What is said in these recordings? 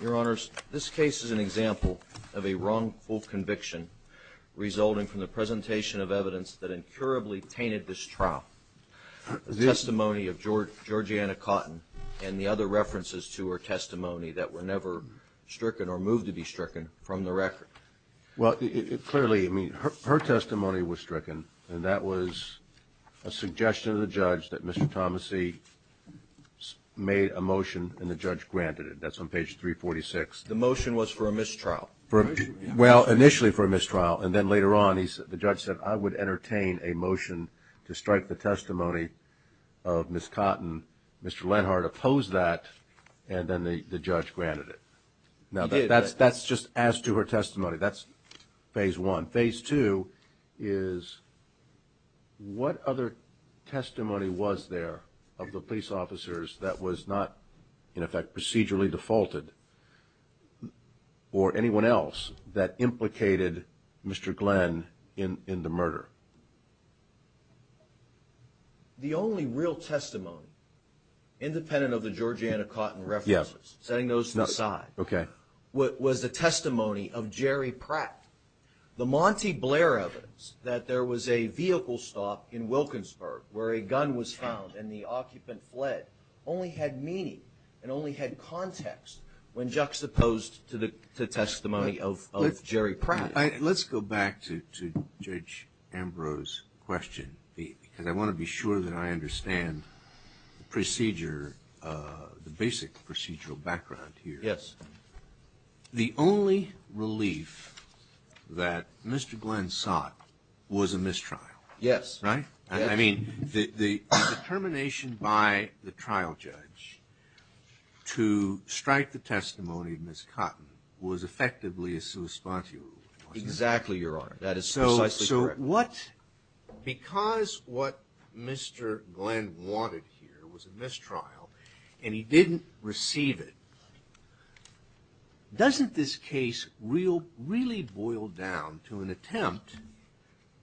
Your Honors, this case is an example of a wrongful conviction resulting from the presentation of evidence that incurably tainted this trial, the testimony of Georgiana Cotton and the other references to her testimony that were never stricken or moved to be stricken from the record. Well, clearly, I mean, her testimony was stricken, and that was a suggestion of the judge that Mr. Thomassey made a motion, and the judge granted it. That's on page 346. The motion was for a mistrial. Well, initially for a mistrial, and then later on, the judge said, I would entertain a motion to strike the testimony of Ms. Cotton. Mr. Lenhardt opposed that, and then the judge granted it. Now that's just as to her testimony. That's phase one. On phase two is, what other testimony was there of the police officers that was not, in effect, procedurally defaulted, or anyone else that implicated Mr. Glenn in the murder? The only real testimony, independent of the Georgiana Cotton references, setting those to the side, was the testimony of Jerry Pratt. The Monty Blair evidence, that there was a vehicle stop in Wilkinsburg, where a gun was found and the occupant fled, only had meaning, and only had context, when juxtaposed to testimony of Jerry Pratt. Let's go back to Judge Ambrose's question, because I want to be sure that I understand the procedure, the basic procedural background here. Yes. The only relief that Mr. Glenn sought was a mistrial. Yes. Right? I mean, the determination by the trial judge to strike the testimony of Ms. Cotton was effectively a sua spontuum, wasn't it? Exactly, Your Honor. That is precisely correct. But because what Mr. Glenn wanted here was a mistrial, and he didn't receive it, doesn't this case really boil down to an attempt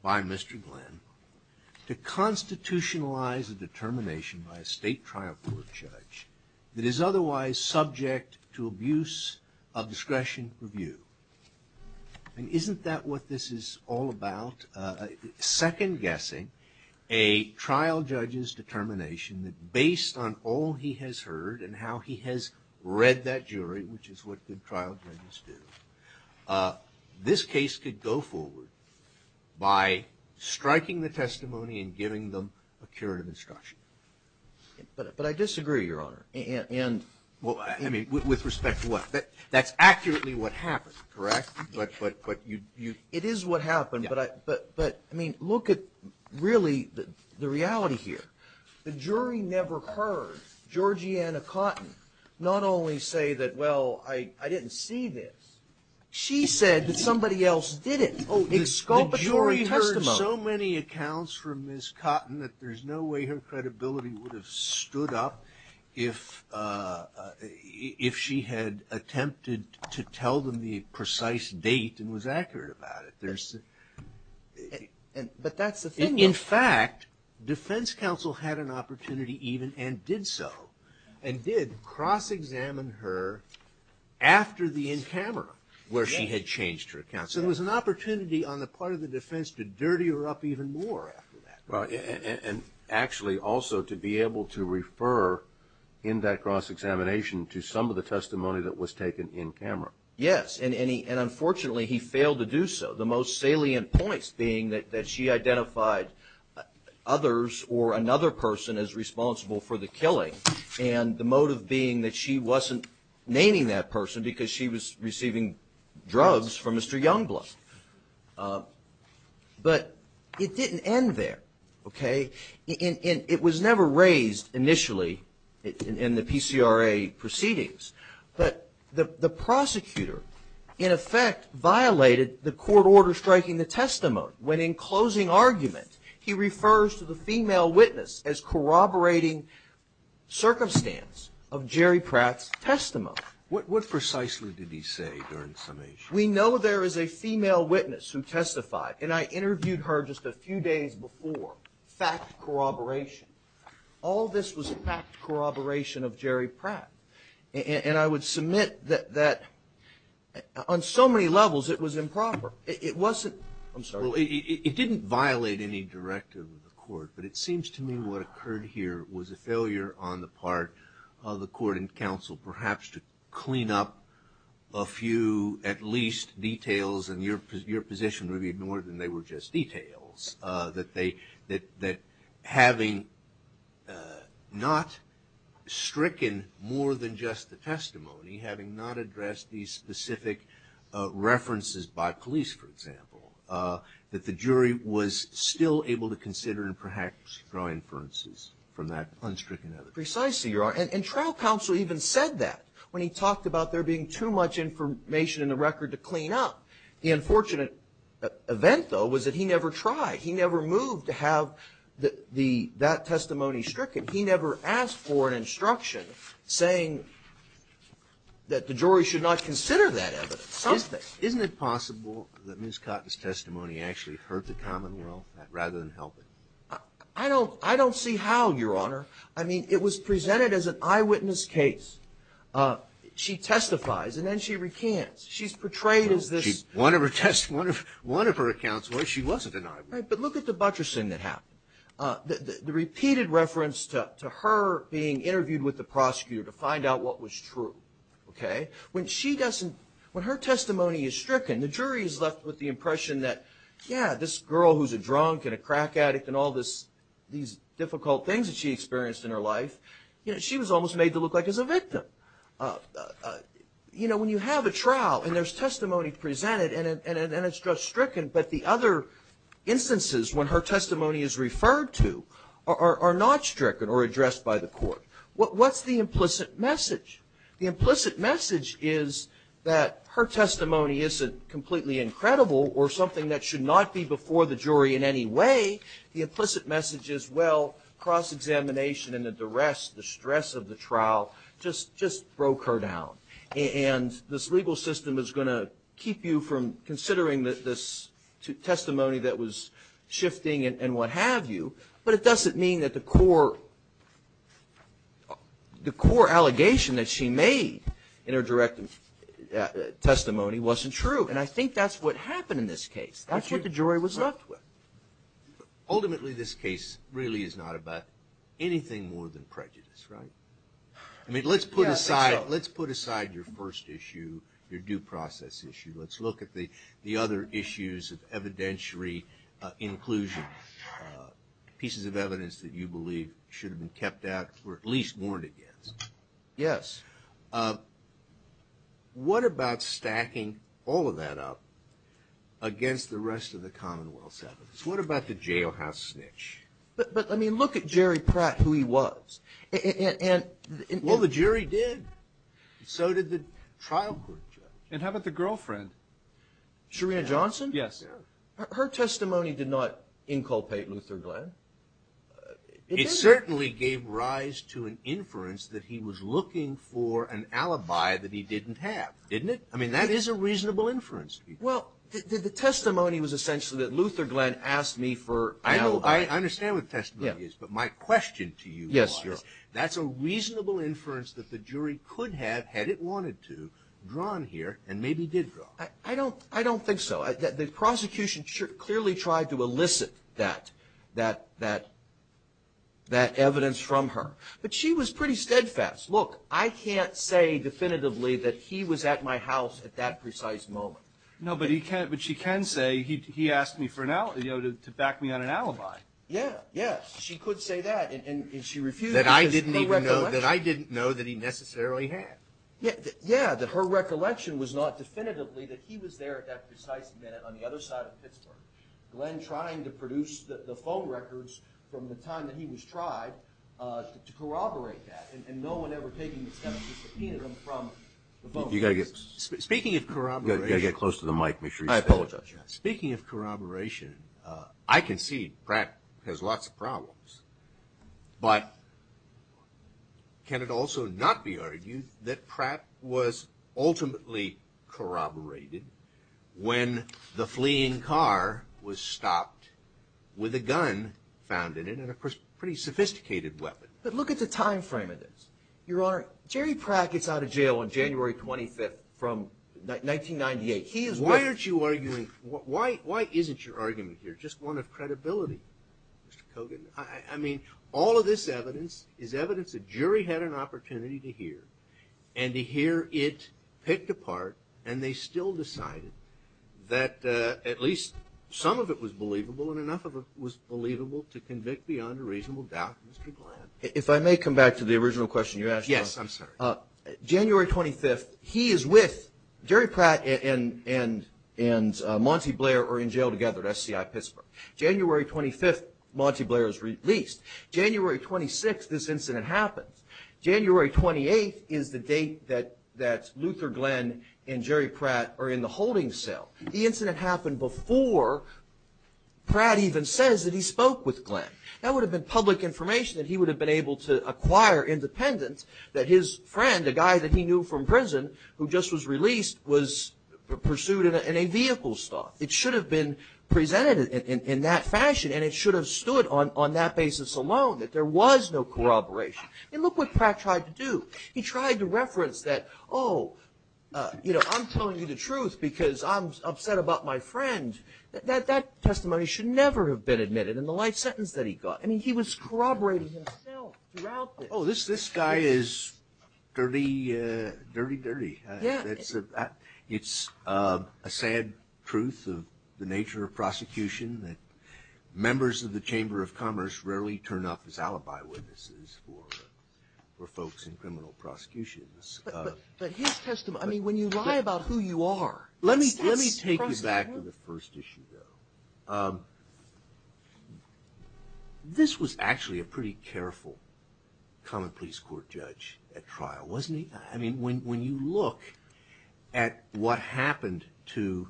by Mr. Glenn to constitutionalize a determination by a state trial court judge that is otherwise subject to abuse of discretion review? And isn't that what this is all about? Second-guessing a trial judge's determination that, based on all he has heard and how he has read that jury, which is what good trial judges do, this case could go forward by striking the testimony and giving them a curative instruction. But I disagree, Your Honor. And well, I mean, with respect to what? That's accurately what happened, correct? It is what happened, but, I mean, look at, really, the reality here. The jury never heard Georgiana Cotton not only say that, well, I didn't see this. She said that somebody else did it. Oh, exculpatory testimony. The jury heard so many accounts from Ms. Cotton that there's no way her credibility would have stood up if she had attempted to tell them the precise date and was accurate about it. But that's the thing, though. In fact, defense counsel had an opportunity even, and did so, and did cross-examine her after the in-camera, where she had changed her account. So there was an opportunity on the part of the defense to dirty her up even more after that. Well, and actually also to be able to refer in that cross-examination to some of the testimony that was taken in-camera. Yes. And unfortunately, he failed to do so. The most salient points being that she identified others or another person as responsible for the killing, and the motive being that she wasn't naming that person because she was receiving drugs from Mr. Youngblood. But it didn't end there, okay? It was never raised initially in the PCRA proceedings. But the prosecutor, in effect, violated the court order striking the testimony, when in closing argument, he refers to the female witness as corroborating circumstance of Jerry Pratt's testimony. What precisely did he say during summation? We know there is a female witness who testified, and I interviewed her just a few days before. Fact corroboration. All this was fact corroboration of Jerry Pratt. And I would submit that on so many levels, it was improper. It wasn't, I'm sorry. It didn't violate any directive of the court, but it seems to me what occurred here was a failure on the part of the court and counsel, perhaps, to clean up a few, at least, details. And your position would be more than they were just details. That having not stricken more than just the testimony, having not addressed these specific references by police, for example, that the jury was still able to consider and perhaps draw inferences from that unstricken evidence. Precisely, Your Honor. And trial counsel even said that when he talked about there being too much information in the record to clean up. The unfortunate event, though, was that he never tried. He never moved to have the, that testimony stricken. He never asked for an instruction saying that the jury should not consider that evidence. Something. Isn't it possible that Ms. Cotton's testimony actually hurt the commonwealth rather than help it? I don't see how, Your Honor. I mean, it was presented as an eyewitness case. She testifies, and then she recants. She's portrayed as this. One of her accounts where she wasn't an eyewitness. But look at the buttressing that happened. The repeated reference to her being interviewed with the prosecutor to find out what was true. When she doesn't, when her testimony is stricken, the jury is left with the impression that, yeah, this girl who's a drunk and a crack addict and all this, these difficult things that she experienced in her life. You know, she was almost made to look like as a victim. You know, when you have a trial and there's testimony presented and it's just stricken, but the other instances when her testimony is referred to are not stricken or addressed by the court. What's the implicit message? The implicit message is that her testimony isn't completely incredible or something that should not be before the jury in any way. The implicit message is, well, cross-examination and the duress, the stress of the trial just broke her down. And this legal system is going to keep you from considering this testimony that was shifting and what have you, but it doesn't mean that the core allegation that she made in her direct testimony wasn't true. And I think that's what happened in this case. That's what the jury was left with. Ultimately, this case really is not about anything more than prejudice, right? I mean, let's put aside your first issue, your due process issue. Let's look at the other issues of evidentiary inclusion, pieces of evidence that you believe should have been kept out or at least warned against. Yes. What about stacking all of that up against the rest of the commonwealth sentences? What about the jailhouse snitch? But, I mean, look at Jerry Pratt, who he was. Well, the jury did. So did the trial court judge. And how about the girlfriend? Sharena Johnson? Yes. Her testimony did not inculpate Luther Glenn. It certainly gave rise to an inference that he was looking for an alibi that he didn't have, didn't it? I mean, that is a reasonable inference. Well, the testimony was essentially that Luther Glenn asked me for an alibi. I understand what the testimony is, but my question to you was, that's a reasonable inference that the jury could have, had it wanted to, drawn here and maybe did draw. I don't think so. The prosecution clearly tried to elicit that evidence from her. But she was pretty steadfast. Look, I can't say definitively that he was at my house at that precise moment. No, but she can say, he asked me to back me on an alibi. Yeah, yeah. She could say that, and she refused because of her recollection. That I didn't know that he necessarily had. Yeah, that her recollection was not definitively that he was there at that precise minute on the other side of Pittsburgh. Glenn trying to produce the phone records from the time that he was tried to corroborate that. And no one ever taking the testimony, subpoenaed him from the phone records. Speaking of corroboration. You've got to get close to the mic, make sure you say it. I apologize. Speaking of corroboration, I can see Pratt has lots of problems. But can it also not be argued that Pratt was ultimately corroborated when the fleeing car was stopped with a gun found in it. And of course, a pretty sophisticated weapon. But look at the time frame of this. Your Honor, Jerry Pratt gets out of jail on January 25th from 1998. He is- Why aren't you arguing, why isn't your argument here just one of credibility, Mr. Kogan? I mean, all of this evidence is evidence the jury had an opportunity to hear. And to hear it picked apart, and they still decided that at least some of it was believable and enough of it was believable to convict beyond a reasonable doubt, Mr. Glenn. If I may come back to the original question you asked. Yes, I'm sorry. January 25th, he is with Jerry Pratt and Monty Blair are in jail together at SCI Pittsburgh. January 25th, Monty Blair is released. January 26th, this incident happens. January 28th is the date that Luther Glenn and Jerry Pratt are in the holding cell. The incident happened before Pratt even says that he spoke with Glenn. That would have been public information that he would have been able to acquire independent that his friend, a guy that he knew from prison who just was released, was pursued in a vehicle stop. It should have been presented in that fashion and it should have stood on that basis alone that there was no corroboration. And look what Pratt tried to do. He tried to reference that, oh, you know, I'm telling you the truth because I'm upset about my friend. That testimony should never have been admitted in the life sentence that he got. I mean, he was corroborating himself throughout this. Oh, this guy is dirty, dirty, dirty. It's a sad truth of the nature of prosecution that members of the Chamber of Commerce rarely turn up as alibi witnesses for folks in criminal prosecutions. But his testimony, I mean, when you lie about who you are. Let me take you back to the first issue, though. This was actually a pretty careful common police court judge at trial, wasn't he? I mean, when you look at what happened to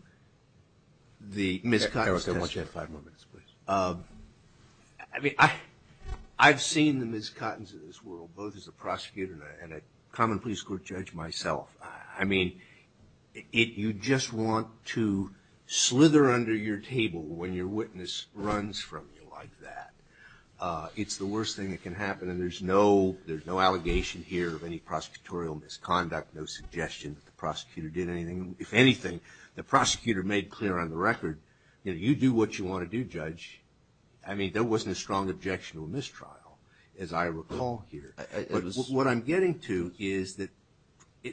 the Ms. Cotton's testimony. Eric, I want you to have five more minutes, please. I mean, I've seen the Ms. Cotton's in this world, both as a prosecutor and a common police court judge myself. I mean, you just want to slither under your table when your witness runs from you like that. It's the worst thing that can happen and there's no allegation here of any prosecutorial misconduct, no suggestion that the prosecutor did anything. If anything, the prosecutor made clear on the record, you know, you do what you want to do, judge. I mean, there wasn't a strong objection to a mistrial, as I recall here. What I'm getting to is that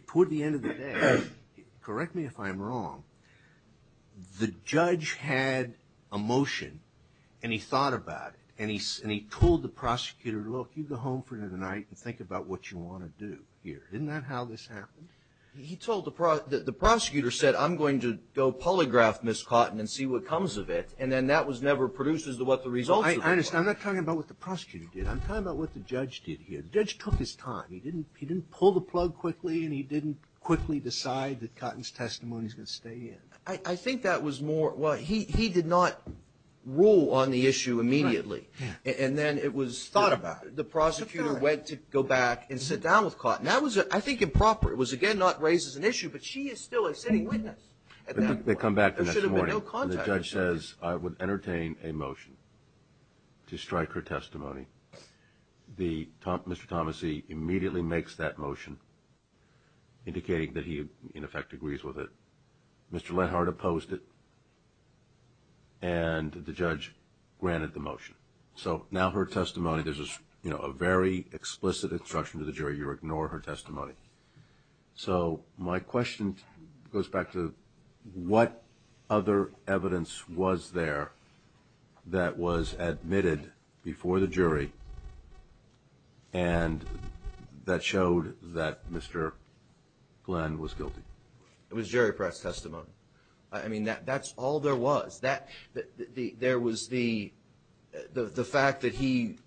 toward the end of the day, correct me if I'm wrong, the judge had a motion and he thought about it and he told the prosecutor, look, you go home for the night and think about what you want to do here. Isn't that how this happened? He told the prosecutor, said, I'm going to go polygraph Ms. Cotton and see what comes of it. And then that was never produced as to what the results were. I understand. I'm not talking about what the prosecutor did. I'm talking about what the judge did here. The judge took his time. He didn't pull the plug quickly and he didn't quickly decide that Cotton's testimony is going to stay in. I think that was more, well, he did not rule on the issue immediately. And then it was thought about. The prosecutor went to go back and sit down with Cotton. That was, I think, improper. It was, again, not raised as an issue, but she is still a sitting witness at that point. They come back the next morning and the judge says, I would entertain a motion to strike her testimony. Mr. Thomassey immediately makes that motion, indicating that he, in effect, agrees with it. Mr. Lenhart opposed it and the judge granted the motion. So now her testimony, there's a very explicit instruction to the jury, you ignore her testimony. So my question goes back to what other evidence was there that was admitted before the jury and that showed that Mr. Glenn was guilty? It was Jerry Pratt's testimony. I mean, that's all there was. There was the fact that he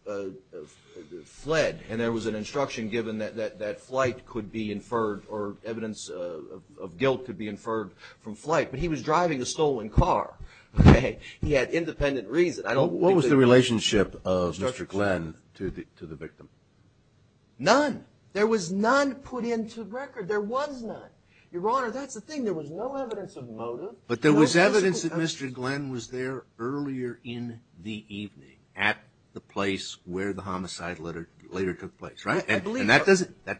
fled and there was an instruction given that flight could be inferred or evidence of guilt could be inferred from flight. But he was driving a stolen car, okay? He had independent reason. I don't think that he was guilty. What was the relationship of Mr. Glenn to the victim? None. There was none put into record. There was none. Your Honor, that's the thing. There was no evidence of motive. But there was evidence that Mr. Glenn was there earlier in the evening at the place where the homicide later took place, right? And that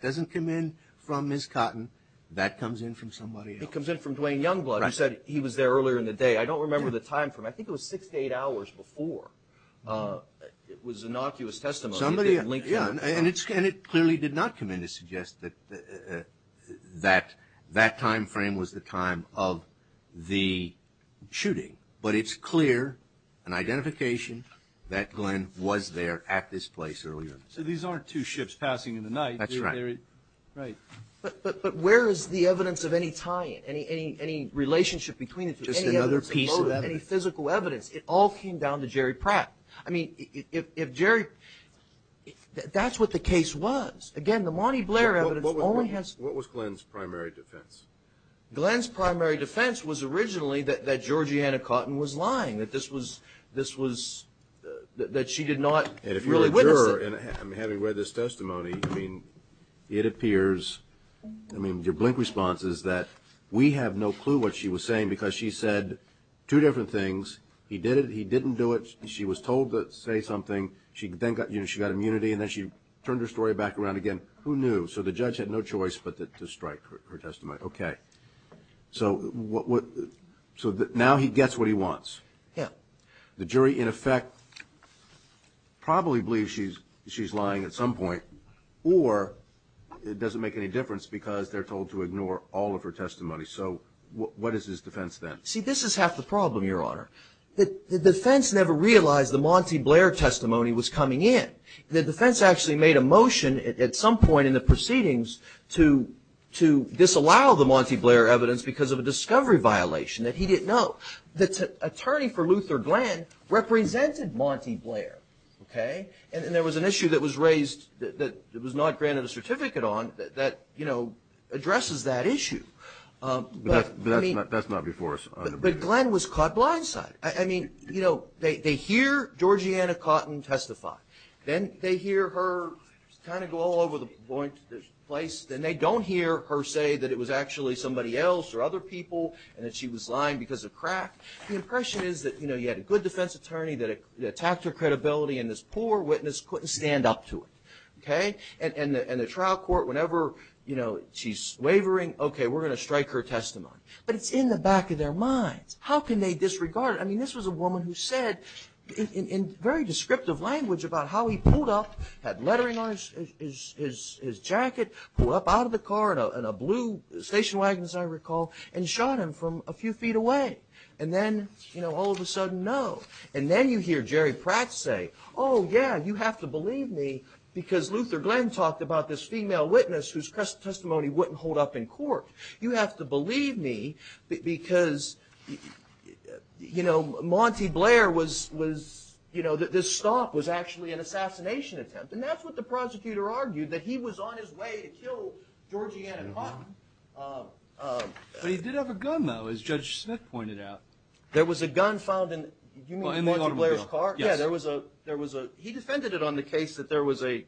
doesn't come in from Ms. Cotton. That comes in from somebody else. It comes in from Dwayne Youngblood, who said he was there earlier in the day. I don't remember the time frame. I think it was six to eight hours before. It was innocuous testimony. And it clearly did not come in to suggest that that time frame was the time of the shooting. But it's clear, an identification, that Glenn was there at this place earlier in the day. So these aren't two ships passing in the night. That's right. Right. But where is the evidence of any tie-in, any relationship between it to any evidence of motive, any physical evidence? It all came down to Jerry Pratt. I mean, if Jerry, that's what the case was. Again, the Monty Blair evidence only has- What was Glenn's primary defense? Glenn's primary defense was originally that Georgiana Cotton was lying, that this was, that she did not really witness it. And if you're a juror, and having read this testimony, I mean, it appears, I mean, your blink response is that we have no clue what she was saying. Because she said two different things. He did it, he didn't do it. She was told to say something. She then got, you know, she got immunity, and then she turned her story back around again. Who knew? So the judge had no choice but to strike her testimony. Okay. So what, so now he gets what he wants. Yeah. The jury, in effect, probably believes she's lying at some point. Or it doesn't make any difference because they're told to ignore all of her testimony. So what is his defense then? See, this is half the problem, Your Honor. The defense never realized the Monty Blair testimony was coming in. The defense actually made a motion at some point in the proceedings to disallow the Monty Blair evidence because of a discovery violation that he didn't know. The attorney for Luther Glenn represented Monty Blair, okay? And there was an issue that was raised that was not granted a certificate on that, you know, addresses that issue. But Glenn was caught blindside. I mean, you know, they hear Georgiana Cotton testify. Then they hear her kind of go all over the place. Then they don't hear her say that it was actually somebody else or other people and that she was lying because of crack. The impression is that, you know, you had a good defense attorney that attacked her credibility, and this poor witness couldn't stand up to it, okay? And the trial court, whenever, you know, she's wavering, okay, we're going to strike her testimony. But it's in the back of their minds. How can they disregard it? I mean, this was a woman who said in very descriptive language about how he pulled up, had lettering on his jacket, pulled up out of the car in a blue station wagon, as I recall, and shot him from a few feet away. And then, you know, all of a sudden, no. And then you hear Jerry Pratt say, oh, yeah, you have to believe me because Luther Glenn talked about this female witness whose testimony wouldn't hold up in court. You have to believe me because, you know, Monty Blair was, you know, this stop was actually an assassination attempt. And that's what the prosecutor argued, that he was on his way to kill Georgiana Cotton. But he did have a gun, though, as Judge Smith pointed out. There was a gun found in, you mean Monty Blair's car? Yeah, there was a, he defended it on the case that there was a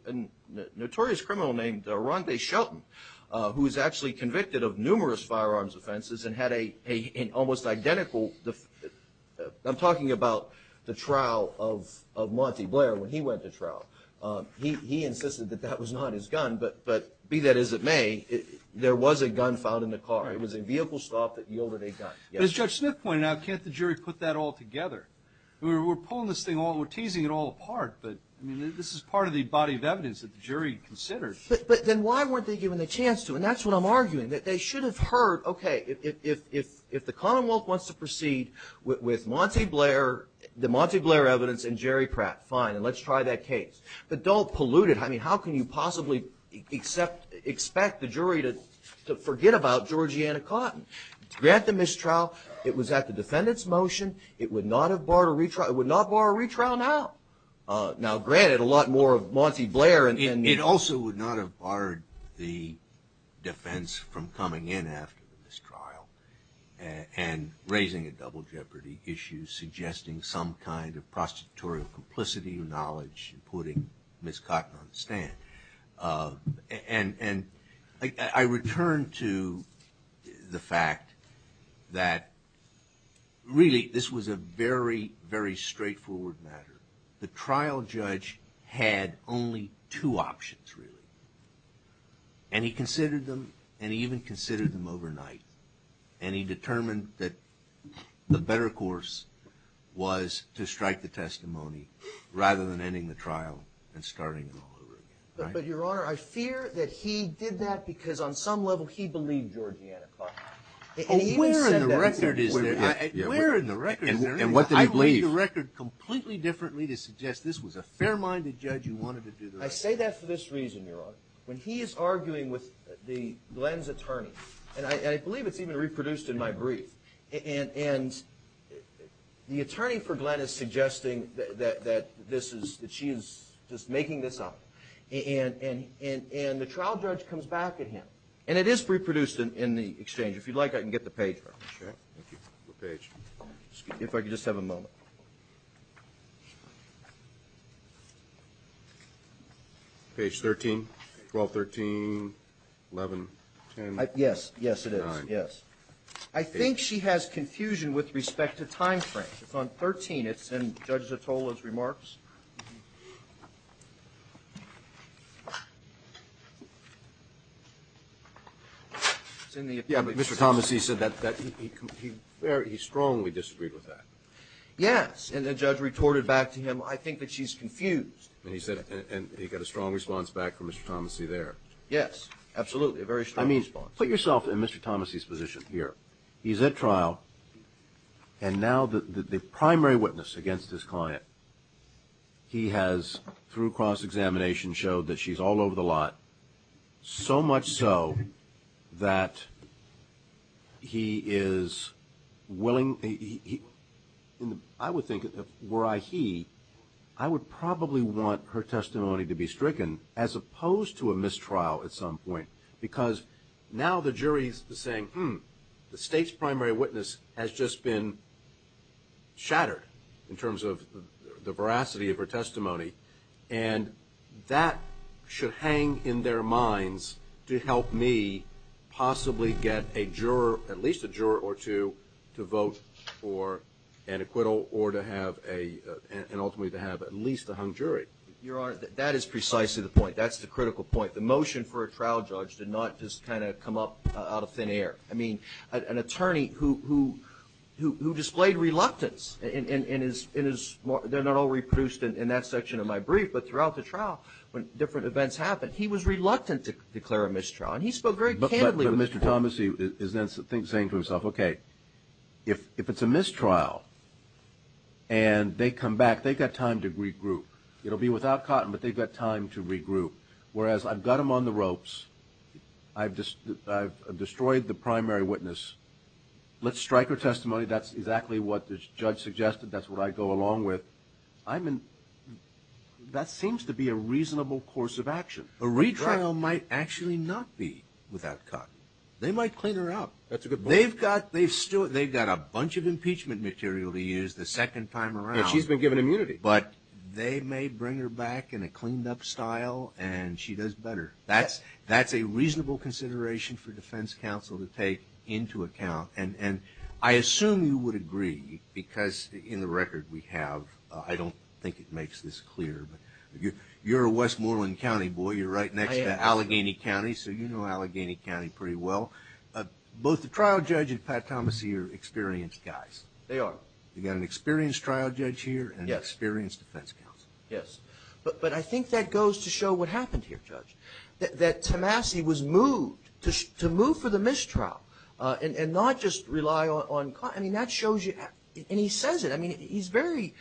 notorious criminal named Ronday Shelton who was actually convicted of numerous firearms offenses and had an almost identical, I'm talking about the trial of Monty Blair when he went to trial. He insisted that that was not his gun, but be that as it may, there was a gun found in the car. It was a vehicle stop that yielded a gun. As Judge Smith pointed out, can't the jury put that all together? We're pulling this thing, we're teasing it all apart, but, I mean, this is part of the body of evidence that the jury considered. But then why weren't they given the chance to, and that's what I'm arguing, that they should have heard, okay, if the Commonwealth wants to proceed with Monty Blair, the Monty Blair evidence and Jerry Pratt, fine, and let's try that case. But don't pollute it. I mean, how can you possibly expect the jury to forget about Georgiana Cotton? To grant the mistrial, it was at the defendant's motion. It would not have barred a retrial. It would not bar a retrial now. Now, granted, a lot more of Monty Blair and the- It also would not have barred the defense from coming in after the mistrial and raising a double jeopardy issue, suggesting some kind of prostitutorial complicity or knowledge and putting Ms. Cotton on the stand. And I return to the fact that, really, this was a very, very straightforward matter. The trial judge had only two options, really. And he considered them, and he even considered them overnight. And he determined that the better course was to strike the testimony rather than ending the trial and starting it all over again. But, Your Honor, I fear that he did that because, on some level, he believed Georgiana Cotton. And he even said that- Where in the record is there- Where in the record is there- And what did he believe? I read your record completely differently to suggest this was a fair-minded judge who wanted to do the right thing. I say that for this reason, Your Honor. When he is arguing with Glenn's attorney, and I believe it's even reproduced in my brief, and the attorney for Glenn is suggesting that this is- that she is just making this up. And the trial judge comes back at him. And it is reproduced in the exchange. If you'd like, I can get the page for you. Sure. Thank you. What page? If I could just have a moment. Page 13, 1213, 11, 10, 9. Yes. Yes, it is. Yes. I think she has confusion with respect to time frame. It's on 13. It's in Judge Zottola's remarks. It's in the- Yeah, but Mr. Thomassey said that he strongly disagreed with that. Yes, and the judge retorted back to him, I think that she's confused. And he said- and he got a strong response back from Mr. Thomassey there. Yes, absolutely, a very strong response. Put yourself in Mr. Thomassey's position here. He's at trial, and now the primary witness against his client, he has, through cross-examination, showed that she's all over the lot, so much so that he is willing- I would think, were I he, I would probably want her testimony to be stricken as opposed to a mistrial at some point. Because now the jury's saying, hmm, the state's primary witness has just been shattered in terms of the veracity of her testimony, and that should hang in their minds to help me possibly get a juror, at least a juror or two, to vote for an acquittal or to have a- and ultimately to have at least a hung jury. Your Honor, that is precisely the point. That's the critical point. The motion for a trial judge did not just kind of come up out of thin air. I mean, an attorney who displayed reluctance in his- they're not all reproduced in that section of my brief, but throughout the trial, when different events happened, he was reluctant to declare a mistrial. And he spoke very candidly- But Mr. Thomassey is then saying to himself, okay, if it's a mistrial and they come back, they've got time to regroup. It'll be without Cotton, but they've got time to regroup. Whereas I've got them on the ropes, I've destroyed the primary witness, let's strike her testimony, that's exactly what the judge suggested, that's what I go along with. I'm in- that seems to be a reasonable course of action. A retrial might actually not be without Cotton. They might clean her up. That's a good point. They've got- they've still- they've got a bunch of impeachment material to use the second time around. Yeah, she's been given immunity. But they may bring her back in a cleaned up style and she does better. That's a reasonable consideration for defense counsel to take into account. And I assume you would agree, because in the record we have, I don't think it makes this clear, but you're a Westmoreland County boy, you're right next to Allegheny County, so you know Allegheny County pretty well. Both the trial judge and Pat Thomassey are experienced guys. They are. You've got an experienced trial judge here and an experienced defense counsel. Yes. But I think that goes to show what happened here, Judge, that Thomassey was moved to move for the mistrial and not just rely on Cotton. I mean, that shows you- and he says it. I mean, he's very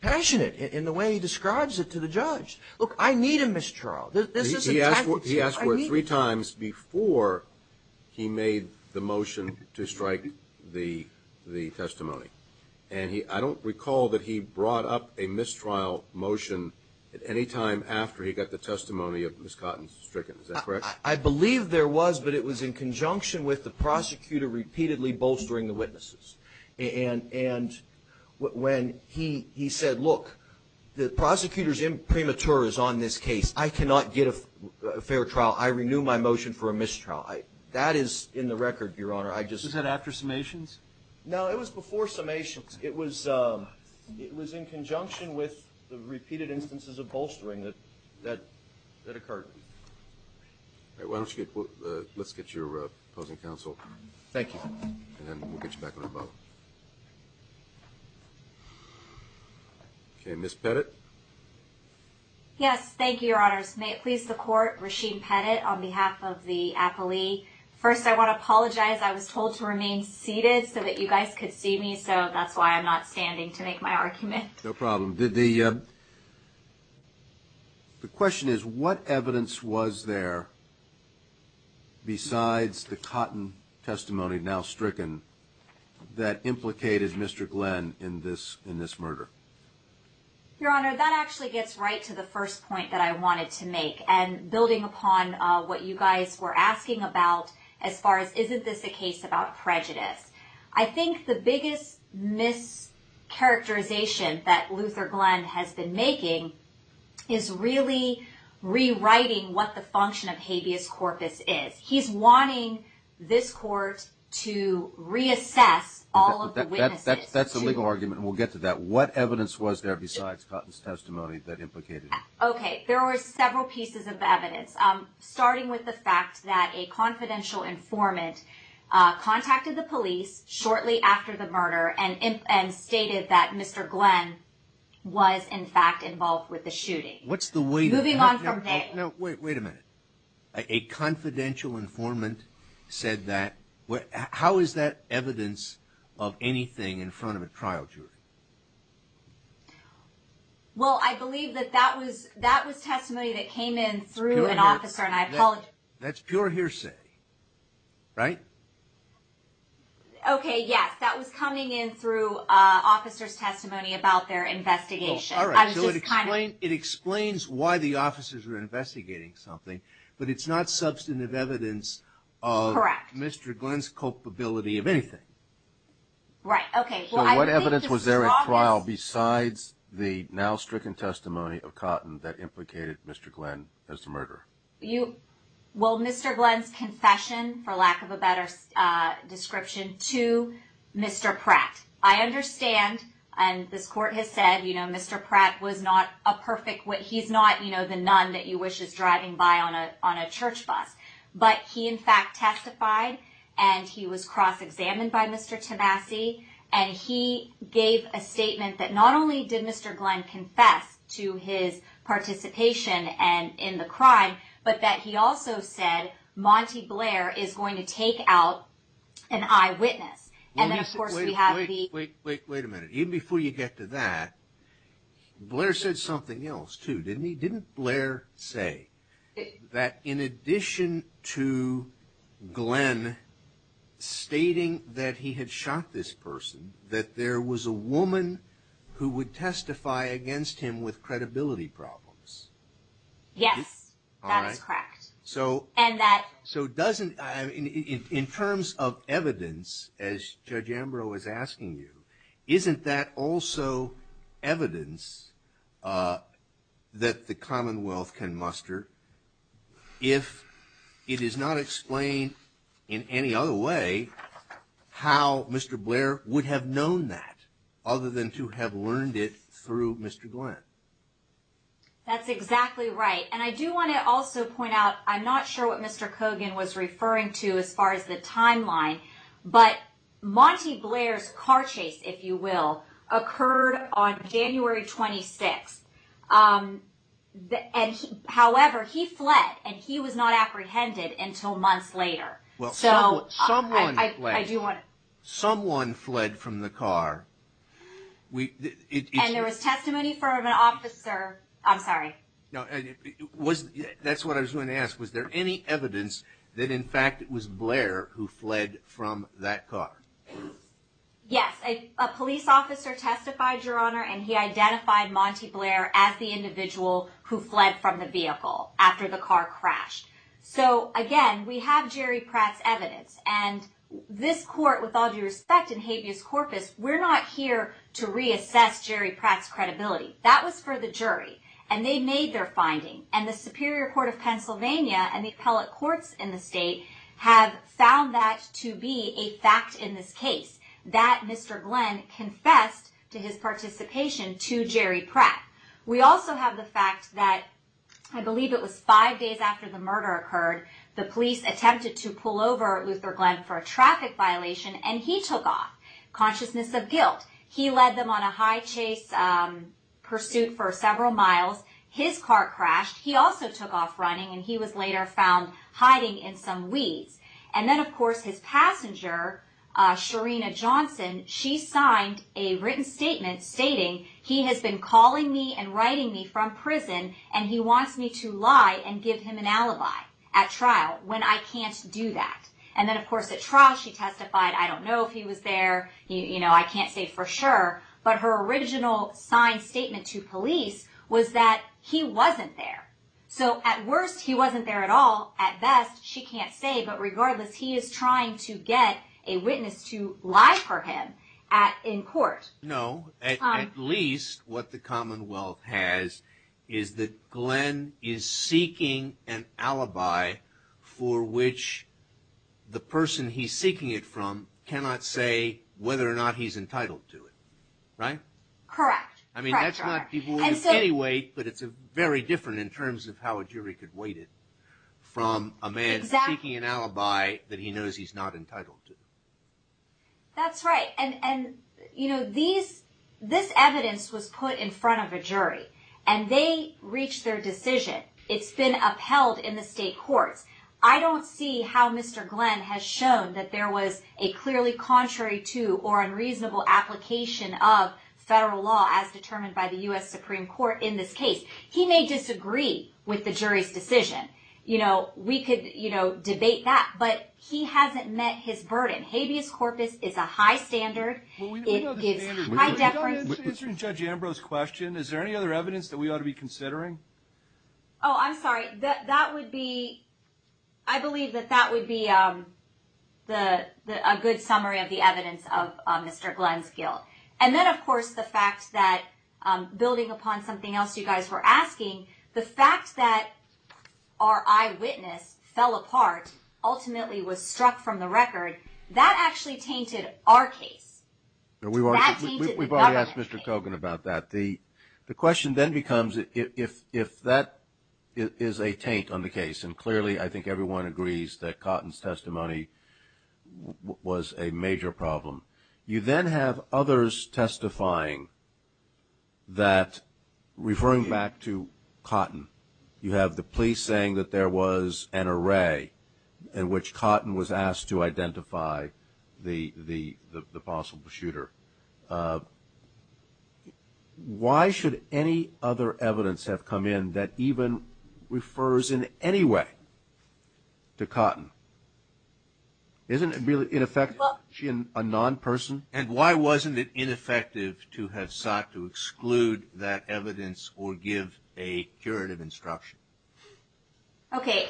passionate in the way he describes it to the judge. Look, I need a mistrial. He asked for it three times before he made the motion to strike the testimony. And I don't recall that he brought up a mistrial motion at any time after he got the testimony of Ms. Cotton Strickland. Is that correct? I believe there was, but it was in conjunction with the prosecutor repeatedly bolstering the witnesses. And when he said, look, the prosecutor's imprimatur is on this case. I cannot get a fair trial. I renew my motion for a mistrial. That is in the record, Your Honor. I just- Was that after summations? No, it was before summations. It was in conjunction with the repeated instances of bolstering that occurred. All right, why don't you get- let's get your opposing counsel. Thank you. And then we'll get you back on the boat. Okay, Ms. Pettit. Yes, thank you, Your Honors. May it please the Court, Rasheed Pettit on behalf of the applee. First, I want to apologize. I was told to remain seated so that you guys could see me. So that's why I'm not standing to make my argument. No problem. The question is, what evidence was there besides the Cotton testimony, now stricken, that implicated Mr. Glenn in this murder? Your Honor, that actually gets right to the first point that I wanted to make. And building upon what you guys were asking about as far as, isn't this a case about prejudice? I think the biggest mischaracterization that Luther Glenn has been making is really rewriting what the function of habeas corpus is. He's wanting this Court to reassess all of the witnesses. That's a legal argument, and we'll get to that. What evidence was there besides Cotton's testimony that implicated him? Okay. There were several pieces of evidence, starting with the fact that a confidential informant contacted the police shortly after the murder and stated that Mr. Glenn was, in fact, involved with the shooting. What's the way? Moving on from there. No, wait a minute. A confidential informant said that? How is that evidence of anything in front of a trial jury? Well, I believe that that was testimony that came in through an officer, and I apologize. That's pure hearsay, right? Okay, yes. That was coming in through officer's testimony about their investigation. All right. So it explains why the officers were investigating something, but it's not substantive evidence of Mr. Glenn's culpability of anything. Right. Okay. What evidence was there at trial besides the now stricken testimony of Cotton that implicated Mr. Glenn as the murderer? Well, Mr. Glenn's confession, for lack of a better description, to Mr. Pratt. I understand, and this court has said, you know, Mr. Pratt was not a perfect, he's not, you know, the nun that you wish is driving by on a church bus. But he, in fact, testified, and he was cross-examined by Mr. Tabassi, and he gave a statement that not only did Mr. Glenn confess to his participation in the crime, but that he also said, Monty Blair is going to take out an eyewitness. And then, of course, we have the- Wait, wait, wait a minute. Even before you get to that, Blair said something else, too, didn't he? That in addition to Glenn stating that he had shot this person, that there was a woman who would testify against him with credibility problems. Yes, that is correct. So- And that- So doesn't, in terms of evidence, as Judge Ambrose was asking you, isn't that also evidence that the Commonwealth can muster if it is not explained in any other way how Mr. Blair would have known that, other than to have learned it through Mr. Glenn? That's exactly right. And I do want to also point out, I'm not sure what Mr. Kogan was referring to as far as the timeline, but Monty Blair's car chase, if you will, occurred on January 26th. However, he fled, and he was not apprehended until months later. Well, someone fled. I do want to- Someone fled from the car. And there was testimony from an officer, I'm sorry. No, that's what I was going to ask. Was there any evidence that, in fact, it was Blair who fled from that car? Yes, a police officer testified, Your Honor, and he identified Monty Blair as the individual who fled from the vehicle after the car crashed. So again, we have Jerry Pratt's evidence. And this court, with all due respect, in habeas corpus, we're not here to reassess Jerry Pratt's credibility. That was for the jury. And they made their finding. And the Superior Court of Pennsylvania and the appellate courts in the state have found that to be a fact in this case, that Mr. Glenn confessed to his participation to Jerry Pratt. We also have the fact that, I believe it was five days after the murder occurred, the police attempted to pull over Luther Glenn for a traffic violation, and he took off, consciousness of guilt. He led them on a high-chase pursuit for several miles. His car crashed. He also took off running, and he was later found hiding in some weeds. And then, of course, his passenger, Shareena Johnson, she signed a written statement stating, he has been calling me and writing me from prison, and he wants me to lie and give him an alibi at trial when I can't do that. And then, of course, at trial, she testified, I don't know if he was there. I can't say for sure. But her original signed statement to police was that he wasn't there. So at worst, he wasn't there at all. At best, she can't say. But regardless, he is trying to get a witness to lie for him in court. No, at least what the Commonwealth has is that Glenn is seeking an alibi for which the person he's seeking it from cannot say whether or not he's entitled to it. Right? Correct. I mean, that's not people with any weight, but it's very different in terms of how a jury could weight it from a man seeking an alibi that he knows he's not entitled to. That's right. This evidence was put in front of a jury, and they reached their decision. It's been upheld in the state courts. I don't see how Mr. Glenn has shown that there was a clearly contrary to or unreasonable application of federal law as determined by the U.S. Supreme Court in this case. He may disagree with the jury's decision. We could debate that, but he hasn't met his burden. Habeas corpus is a high standard. It gives high deference. Answering Judge Ambrose's question, is there any other evidence that we ought to be considering? Oh, I'm sorry. That would be... I believe that that would be a good summary of the evidence of Mr. Glenn's guilt. And then, of course, the fact that, building upon something else you guys were asking, the fact that our eyewitness fell apart, ultimately was struck from the record, that actually tainted our case. We've already asked Mr. Kogan about that. The question then becomes, if that is a taint on the case, and clearly, I think everyone agrees that Cotton's testimony was a major problem, you then have others testifying that, referring back to Cotton, you have the police saying that there was an array in which Cotton was asked to identify the possible shooter. Why should any other evidence have come in that even refers in any way to Cotton? Isn't it really ineffective to question a non-person? And why wasn't it ineffective to have sought to exclude that evidence or give a curative instruction? Okay,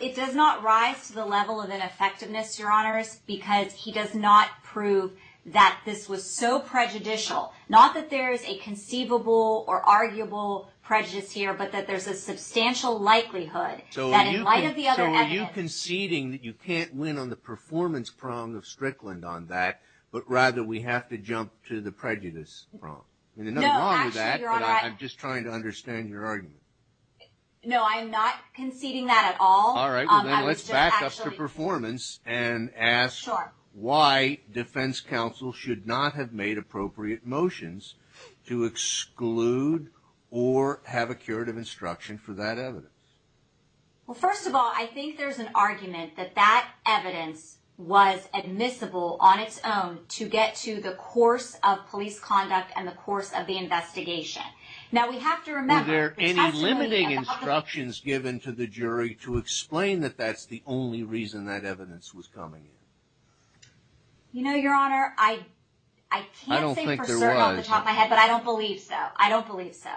it does not rise to the level of ineffectiveness, Your Honors, because he does not prove that this was so prejudicial. Not that there's a conceivable or arguable prejudice here, but that there's a substantial likelihood that, in light of the other evidence- So are you conceding that you can't win on the performance prong of Strickland on that, but rather we have to jump to the prejudice prong? No, actually, Your Honor- I'm just trying to understand your argument. No, I'm not conceding that at all. Sure. Defense counsel should not have made appropriate motions to exclude or have a curative instruction for that evidence. Well, first of all, I think there's an argument that that evidence was admissible on its own to get to the course of police conduct and the course of the investigation. Now, we have to remember- Were there any limiting instructions given to the jury to explain that that's the only reason that evidence was coming in? Your Honor, I can't say for certain off the top of my head, but I don't believe so. I don't believe so.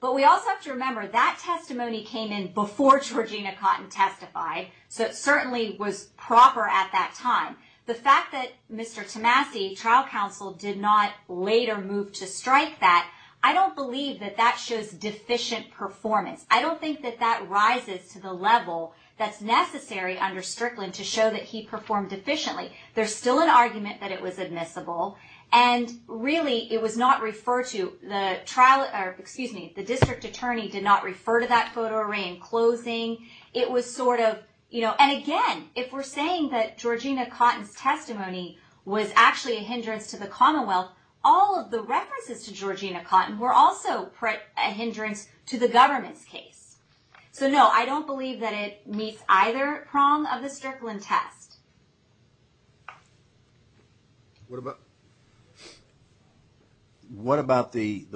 But we also have to remember that testimony came in before Georgina Cotton testified, so it certainly was proper at that time. The fact that Mr. Tomasi, trial counsel, did not later move to strike that, I don't believe that that shows deficient performance. I don't think that that rises to the level that's necessary under Strickland to show that he performed efficiently. There's still an argument that it was admissible. And really, it was not referred to. The district attorney did not refer to that photo array in closing. It was sort of, you know- And again, if we're saying that Georgina Cotton's testimony was actually a hindrance to the Commonwealth, all of the references to Georgina Cotton were also a hindrance to the government's case. So no, I don't believe that it meets either prong of the Strickland test. What about the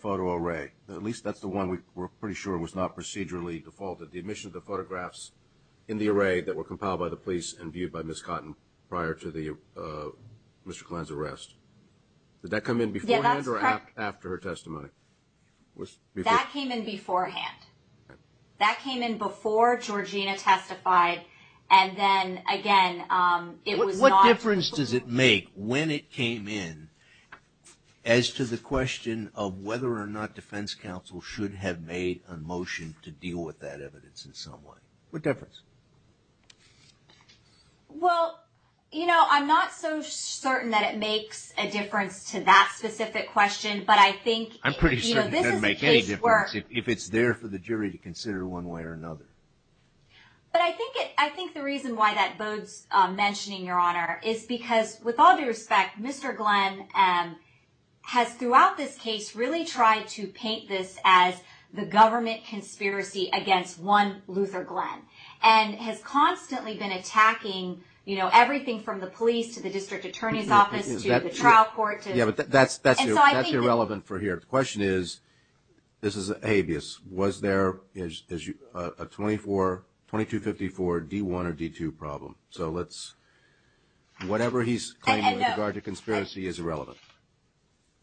photo array? At least that's the one we're pretty sure was not procedurally defaulted. The admission of the photographs in the array that were compiled by the police and viewed by Ms. Cotton prior to Mr. Glenn's arrest. Did that come in beforehand or after her testimony? That came in beforehand. That came in before Georgina testified. And then again, it was not- What difference does it make when it came in as to the question of whether or not defense counsel should have made a motion to deal with that evidence in some way? What difference? Well, you know, I'm not so certain that it makes a difference to that specific question. But I think- I'm pretty sure it doesn't make any difference if it's there for the jury to consider one way or another. But I think the reason why that bodes mentioning, Your Honor, is because with all due respect, Mr. Glenn has throughout this case really tried to paint this as the government conspiracy against one Luther Glenn and has constantly been attacking, you know, everything from the police to the district attorney's office to the trial court to- Yeah, but that's irrelevant for here. The question is, this is a habeas, was there a 2254 D1 or D2 problem? So let's- Whatever he's claiming in regard to conspiracy is irrelevant.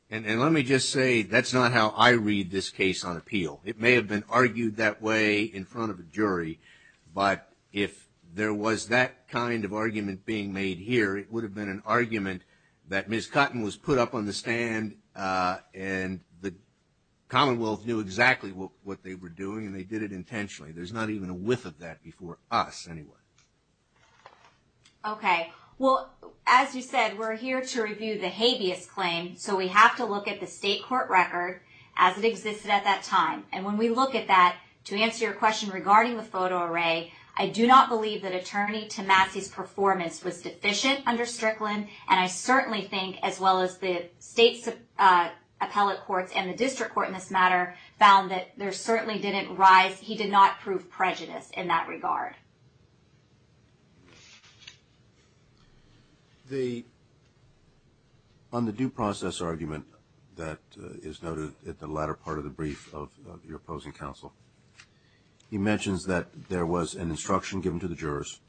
And let me just say, that's not how I read this case on appeal. It may have been argued that way in front of a jury. But if there was that kind of argument being made here, it would have been an argument that Ms. Cotton was put up on the stand and the Commonwealth knew exactly what they were doing and they did it intentionally. There's not even a whiff of that before us, anyway. Okay. Well, as you said, we're here to review the habeas claim. So we have to look at the state court record as it existed at that time. And when we look at that, to answer your question regarding the photo array, I do not believe that Attorney Tomasi's performance was deficient under Strickland. And I certainly think, as well as the state's appellate courts and the district court in this matter, found that there certainly didn't rise, he did not prove prejudice in that regard. On the due process argument that is noted at the latter part of the brief of your opposing counsel, he mentions that there was an instruction given to the jurors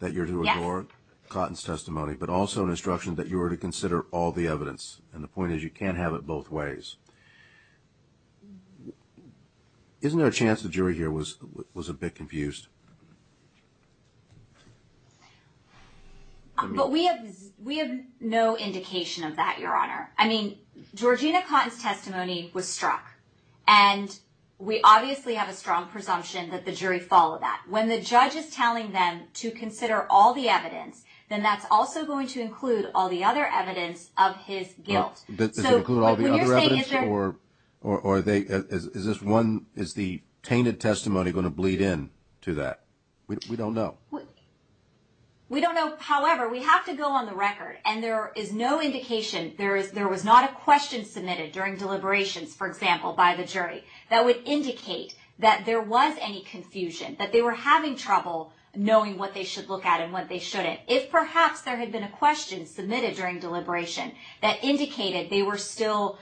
that you're to ignore Cotton's instruction that you were to consider all the evidence. And the point is, you can't have it both ways. Isn't there a chance the jury here was a bit confused? But we have no indication of that, Your Honor. I mean, Georgina Cotton's testimony was struck. And we obviously have a strong presumption that the jury followed that. When the judge is telling them to consider all the evidence, then that's also going to include all the other evidence of his guilt. Does it include all the other evidence, or is the tainted testimony going to bleed in to that? We don't know. We don't know. However, we have to go on the record. And there is no indication, there was not a question submitted during deliberations, for example, by the jury that would indicate that there was any confusion, that they were having trouble knowing what they should look at and what they shouldn't. If perhaps there had been a question submitted during deliberation that indicated they were still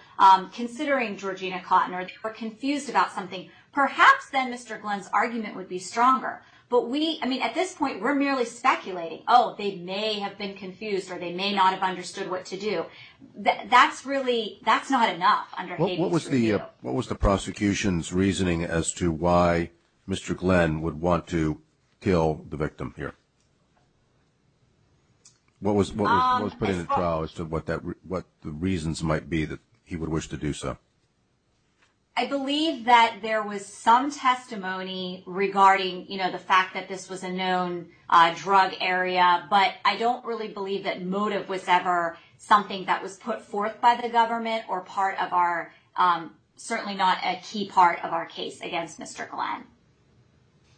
considering Georgina Cotton, or they were confused about something, perhaps then Mr. Glenn's argument would be stronger. But we, I mean, at this point, we're merely speculating. Oh, they may have been confused, or they may not have understood what to do. That's really, that's not enough under Haiti's review. What was the prosecution's reasoning as to why Mr. Glenn would want to kill the victim here? What was put in the trial as to what the reasons might be that he would wish to do so? I believe that there was some testimony regarding the fact that this was a known drug area. But I don't really believe that motive was ever something that was put forth by the government, or part of our, certainly not a key part of our case against Mr. Glenn.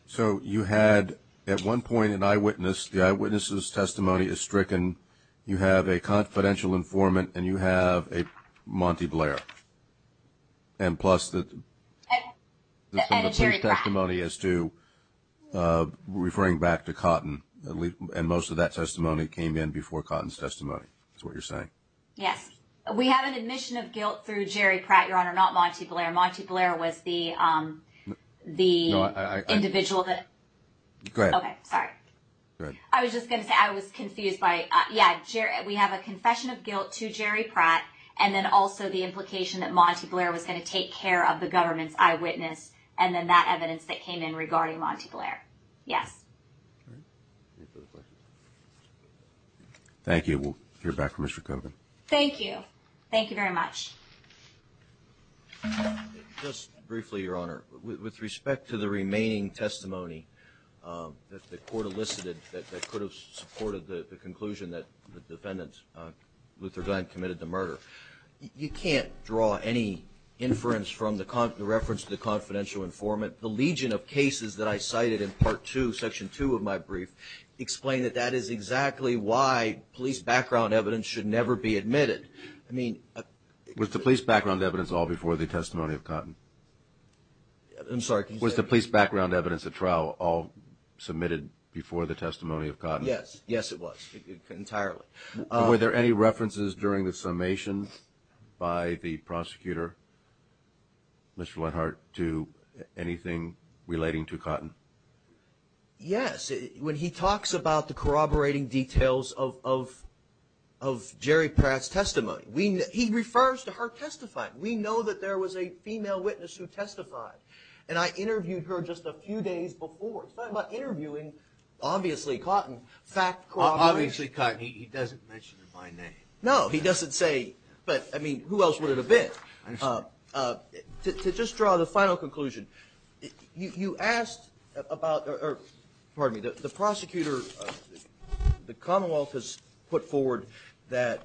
So you had, at one point, an eyewitness. The eyewitness's testimony is stricken. You have a confidential informant, and you have a Monty Blair. And plus the testimony as to referring back to Cotton, and most of that testimony came in before Cotton's testimony, is what you're saying? Yes. We have an admission of guilt through Jerry Pratt, Your Honor, not Monty Blair. Monty Blair was the individual that- Go ahead. Okay, sorry. I was just going to say, I was confused by, yeah, we have a confession of guilt to Jerry Pratt, and then also the implication that Monty Blair was going to take care of the government's eyewitness, and then that evidence that came in regarding Monty Blair. Yes. Thank you. We'll hear back from Mr. Kogan. Thank you. Thank you very much. Just briefly, Your Honor, with respect to the remaining testimony that the court elicited that could have supported the conclusion that the defendant, Luther Glenn, committed the murder, you can't draw any inference from the reference to the confidential informant. The legion of cases that I cited in part two, section two of my brief, explain that that is exactly why police background evidence should never be admitted. I mean- Was the police background evidence all before the testimony of Cotton? I'm sorry, can you say that again? Was the police background evidence at trial all submitted before the testimony of Cotton? Yes. Yes, it was, entirely. Were there any references during the summation by the prosecutor, Mr. Lenhart, to anything relating to Cotton? Yes, when he talks about the corroborating details of Jerry Pratt's testimony, he refers to her testifying. We know that there was a female witness who testified, and I interviewed her just a few days before. He's talking about interviewing, obviously, Cotton, fact corroborating- Obviously, Cotton. He doesn't mention my name. No, he doesn't say, but I mean, who else would it have been? I understand. To just draw the final conclusion, you asked about, or, pardon me, the prosecutor, the Commonwealth has put forward that,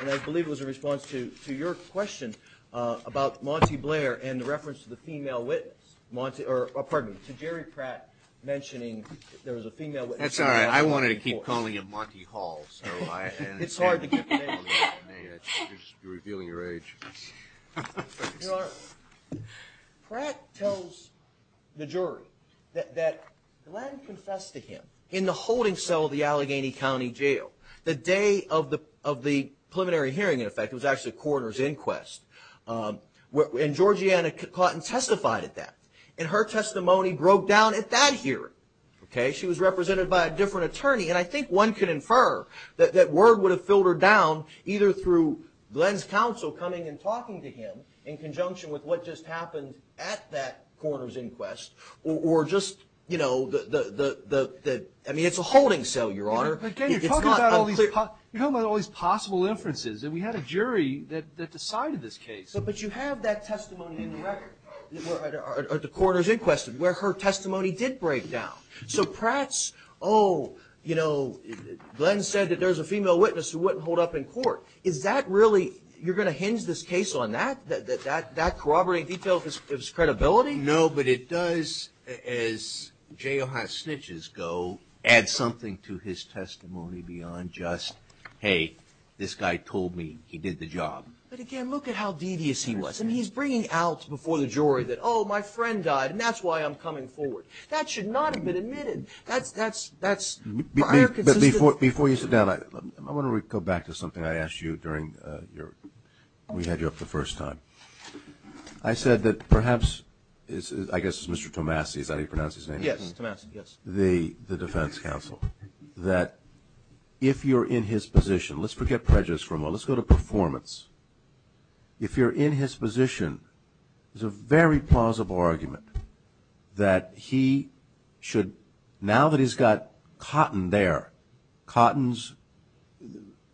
and I believe it was in response to your question about Monty Blair and the reference to the female witness, Monty, or, pardon me, to Jerry Pratt mentioning there was a female witness- That's all right. I wanted to keep calling him Monty Hall, so I- It's hard to get the name. You're revealing your age. Pratt tells the jury that Glenn confessed to him in the holding cell of the Allegheny County Jail. The day of the preliminary hearing, in effect, it was actually a coroner's inquest, and Georgiana Cotton testified at that, and her testimony broke down at that hearing. Okay? She was represented by a different attorney, and I think one could infer that word would have filtered down either through Glenn's counsel coming and talking to him in conjunction with what just happened at that coroner's inquest, or just the... I mean, it's a holding cell, Your Honor. Again, you're talking about all these possible inferences, and we had a jury that decided this case. But you have that testimony in the record, at the coroner's inquest, where her testimony did break down. So Pratt's, oh, you know, Glenn said that there's a female witness who wouldn't hold up in court. Is that really... You're going to hinge this case on that? That corroborating detail gives credibility? No, but it does, as jailhouse snitches go, add something to his testimony beyond just, hey, this guy told me he did the job. But again, look at how devious he was. I mean, he's bringing out before the jury that, oh, my friend died, and that's why I'm coming forward. That should not have been admitted. That's, that's, that's higher consistency. But before you sit down, I want to go back to something I asked you during your... when we had you up the first time. I said that perhaps, I guess it's Mr. Tomasi, is that how you pronounce his name? Yes, Tomasi, yes. The defense counsel, that if you're in his position, let's forget prejudice for a moment, let's go to performance. If you're in his position, there's a very plausible argument that he should, now that he's got Cotton there, Cotton's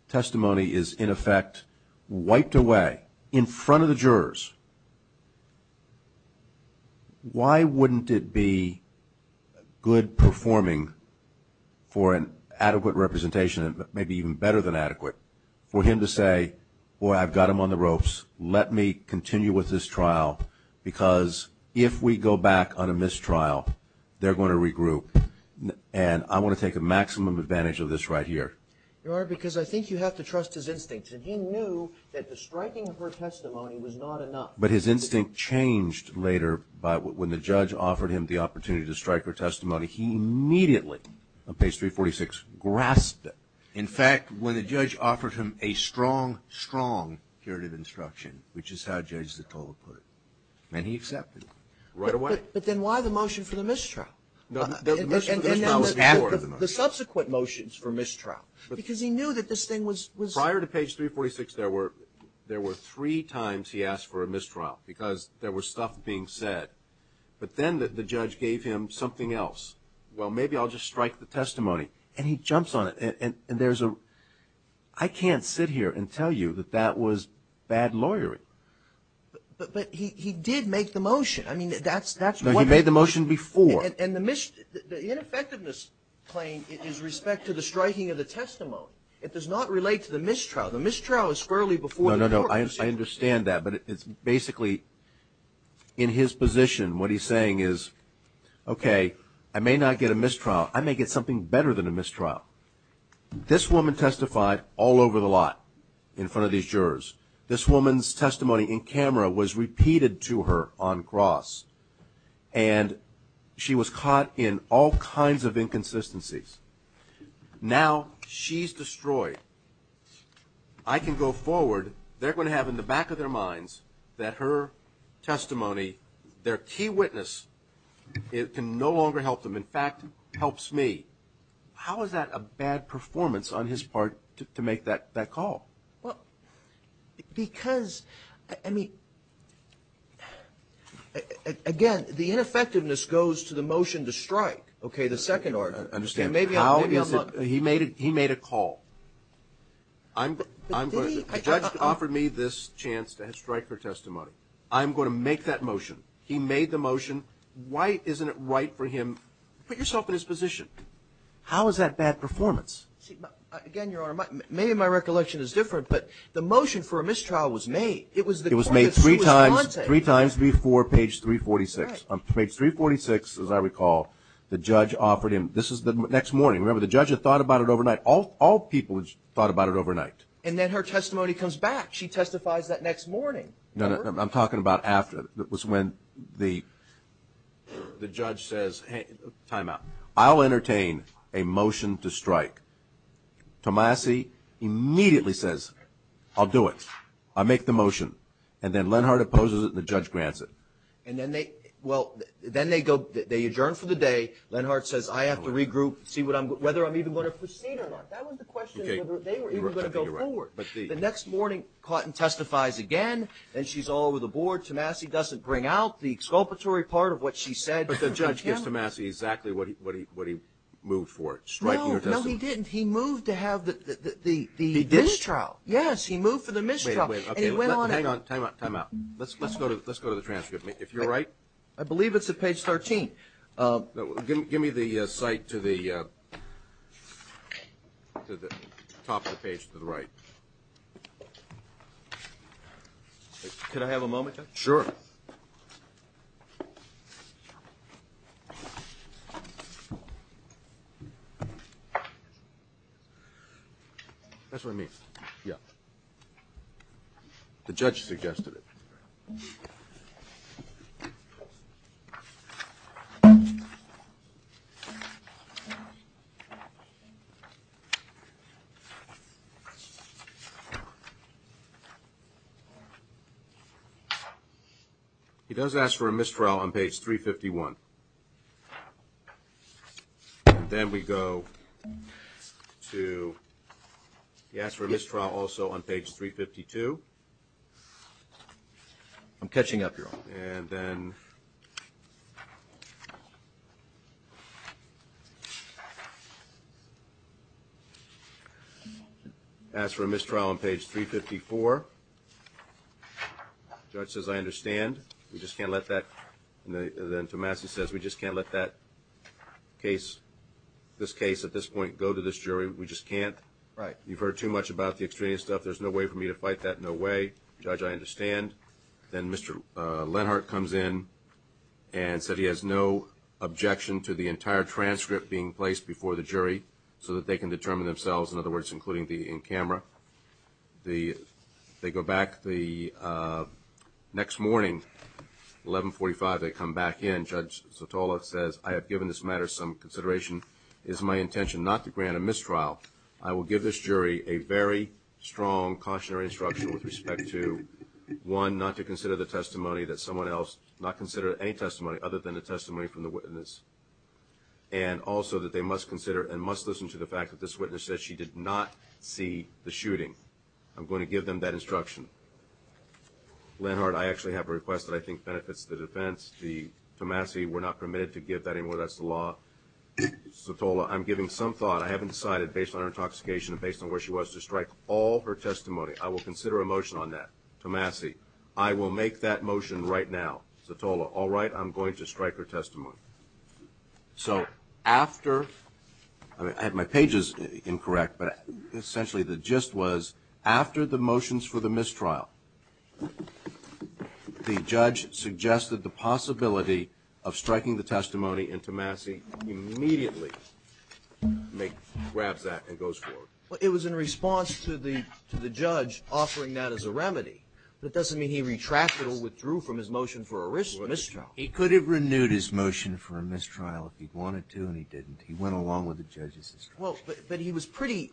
testimony is, in effect, wiped away in front of the jurors, why wouldn't it be good performing for an adequate representation, maybe even better than adequate, for him to say, boy, I've got him on the ropes, let me continue with this trial, because if we go back on a mistrial, they're going to regroup. And I want to take a maximum advantage of this right here. Your Honor, because I think you have to trust his instincts. And he knew that the striking of her testimony was not enough. But his instinct changed later by, when the judge offered him the opportunity to strike her testimony, he immediately, on page 346, grasped it. In fact, when the judge offered him a strong, strong curative instruction, which is how Judge Zottola put it, and he accepted it right away. But then why the motion for the mistrial? No, the mistrial was after the motion. The subsequent motions for mistrial, because he knew that this thing was – Prior to page 346, there were three times he asked for a mistrial, because there was stuff being said. But then the judge gave him something else. Well, maybe I'll just strike the testimony. And he jumps on it. And there's a – I can't sit here and tell you that that was bad lawyering. But he did make the motion. I mean, that's what – No, he made the motion before. And the ineffectiveness claim is respect to the striking of the testimony. It does not relate to the mistrial. The mistrial is squarely before the court. No, no, no, I understand that. But it's basically, in his position, what he's saying is, okay, I may not get a mistrial. I may get something better than a mistrial. This woman testified all over the lot in front of these jurors. This woman's testimony in camera was repeated to her on cross. And she was caught in all kinds of inconsistencies. Now she's destroyed. I can go forward. They're going to have in the back of their minds that her testimony, their key witness, it can no longer help them. In fact, helps me. How is that a bad performance on his part to make that call? Well, because – I mean, again, the ineffectiveness goes to the motion to strike. Okay, the second – Understand, how is it – He made a call. The judge offered me this chance to strike her testimony. I'm going to make that motion. He made the motion. Why isn't it right for him – put yourself in his position. How is that bad performance? Again, Your Honor, maybe my recollection is different, but the motion for a mistrial was made. It was made three times before page 346. On page 346, as I recall, the judge offered him – this is the next morning. Remember, the judge had thought about it overnight. All people thought about it overnight. And then her testimony comes back. She testifies that next morning. I'm talking about after. That was when the judge says, hey, time out. I'll entertain a motion to strike. Tomasi immediately says, I'll do it. I'll make the motion. And then Lenhart opposes it, and the judge grants it. And then they – well, then they go – they adjourn for the day. Lenhart says, I have to regroup, see what I'm – whether I'm even going to proceed or not. That was the question. They were even going to go forward. The next morning, Cotton testifies again. Then she's all over the board. Tomasi doesn't bring out the exculpatory part of what she said. But the judge gives Tomasi exactly what he moved for, striking her testimony. No, no, he didn't. He moved to have the mistrial. Yes, he moved for the mistrial. Wait, wait. Okay, hang on. Time out, time out. Let's go to the transcript, if you're right. I believe it's at page 13. Give me the cite to the top of the page to the right. Could I have a moment? Sure. That's what I mean. Yeah. The judge suggested it. He does ask for a mistrial on page 351. Then we go to – he asked for a mistrial also on page 352. And then asked for a mistrial on page 354. Judge says, I understand. We just can't let that – and then Tomasi says, we just can't let that case – this case at this point go to this jury. We just can't. Right. You've heard too much about the extraneous stuff. There's no way for me to fight that. No way. Judge, I understand. Then Mr. Lenhart comes in and said he has no objection to the entire transcript being placed before the jury so that they can determine themselves, in other words, including the in camera. They go back the next morning, 1145, they come back in. Judge Sotola says, I have given this matter some consideration. It is my intention not to grant a mistrial. I will give this jury a very strong cautionary instruction with respect to, one, not to consider the testimony that someone else – not consider any testimony other than the testimony from the witness. And also that they must consider and must listen to the fact that this witness said she did not see the shooting. I'm going to give them that instruction. Lenhart, I actually have a request that I think benefits the defense. The – Tomasi, we're not permitted to give that anymore. That's the law. Sotola, I'm giving some thought. I haven't decided based on her intoxication and based on where she was to strike all her testimony. I will consider a motion on that. Tomasi, I will make that motion right now. Sotola, all right, I'm going to strike her testimony. So after – I had my pages incorrect, but essentially the gist was after the motions for the mistrial, the judge suggested the possibility of striking the testimony and Tomasi immediately grabs that and goes forward. Well, it was in response to the judge offering that as a remedy. That doesn't mean he retracted or withdrew from his motion for a mistrial. He could have renewed his motion for a mistrial if he wanted to and he didn't. He went along with the judge's instruction. Well, but he was pretty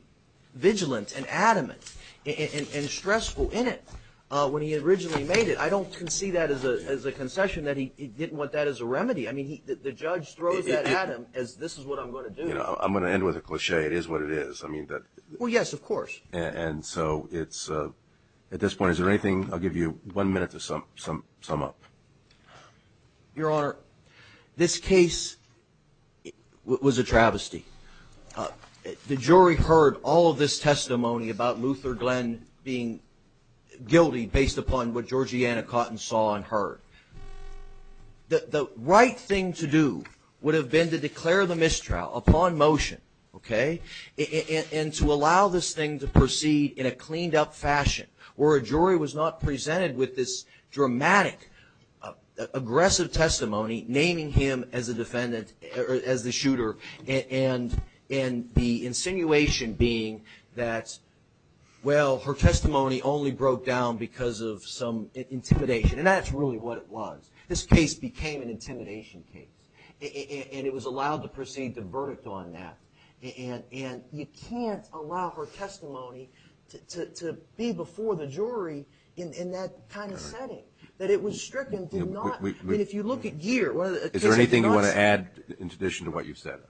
vigilant and adamant and stressful in it when he originally made it. I don't concede that as a concession that he didn't want that as a remedy. I mean, the judge throws that at him as this is what I'm going to do. You know, I'm going to end with a cliché. It is what it is. I mean, that – Well, yes, of course. And so it's – at this point, is there anything – I'll give you one minute to sum up. Your Honor, this case was a travesty. The jury heard all of this testimony about Luther Glenn being guilty based upon what Georgiana Cotton saw and heard. The right thing to do would have been to declare the mistrial upon motion, okay, and to allow this thing to proceed in a cleaned up fashion where a jury was not presented with this dramatic, aggressive testimony naming him as the shooter and the insinuation being that, well, her testimony only broke down because of some intimidation. And that's really what it was. This case became an intimidation case. And it was allowed to proceed to verdict on that. And you can't allow her testimony to be before the jury in that kind of setting. That it was stricken, did not – I mean, if you look at year – Is there anything you want to add in addition to what you've said?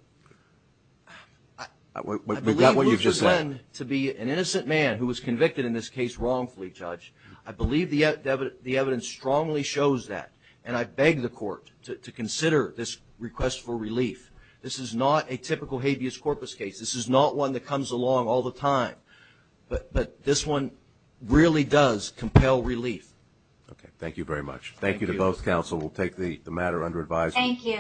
I believe Luther Glenn to be an innocent man who was convicted in this case wrongfully, I believe the evidence strongly shows that. And I beg the court to consider this request for relief. This is not a typical habeas corpus case. This is not one that comes along all the time. But this one really does compel relief. Okay. Thank you very much. Thank you to both counsel. We'll take the matter under advisory. Thank you.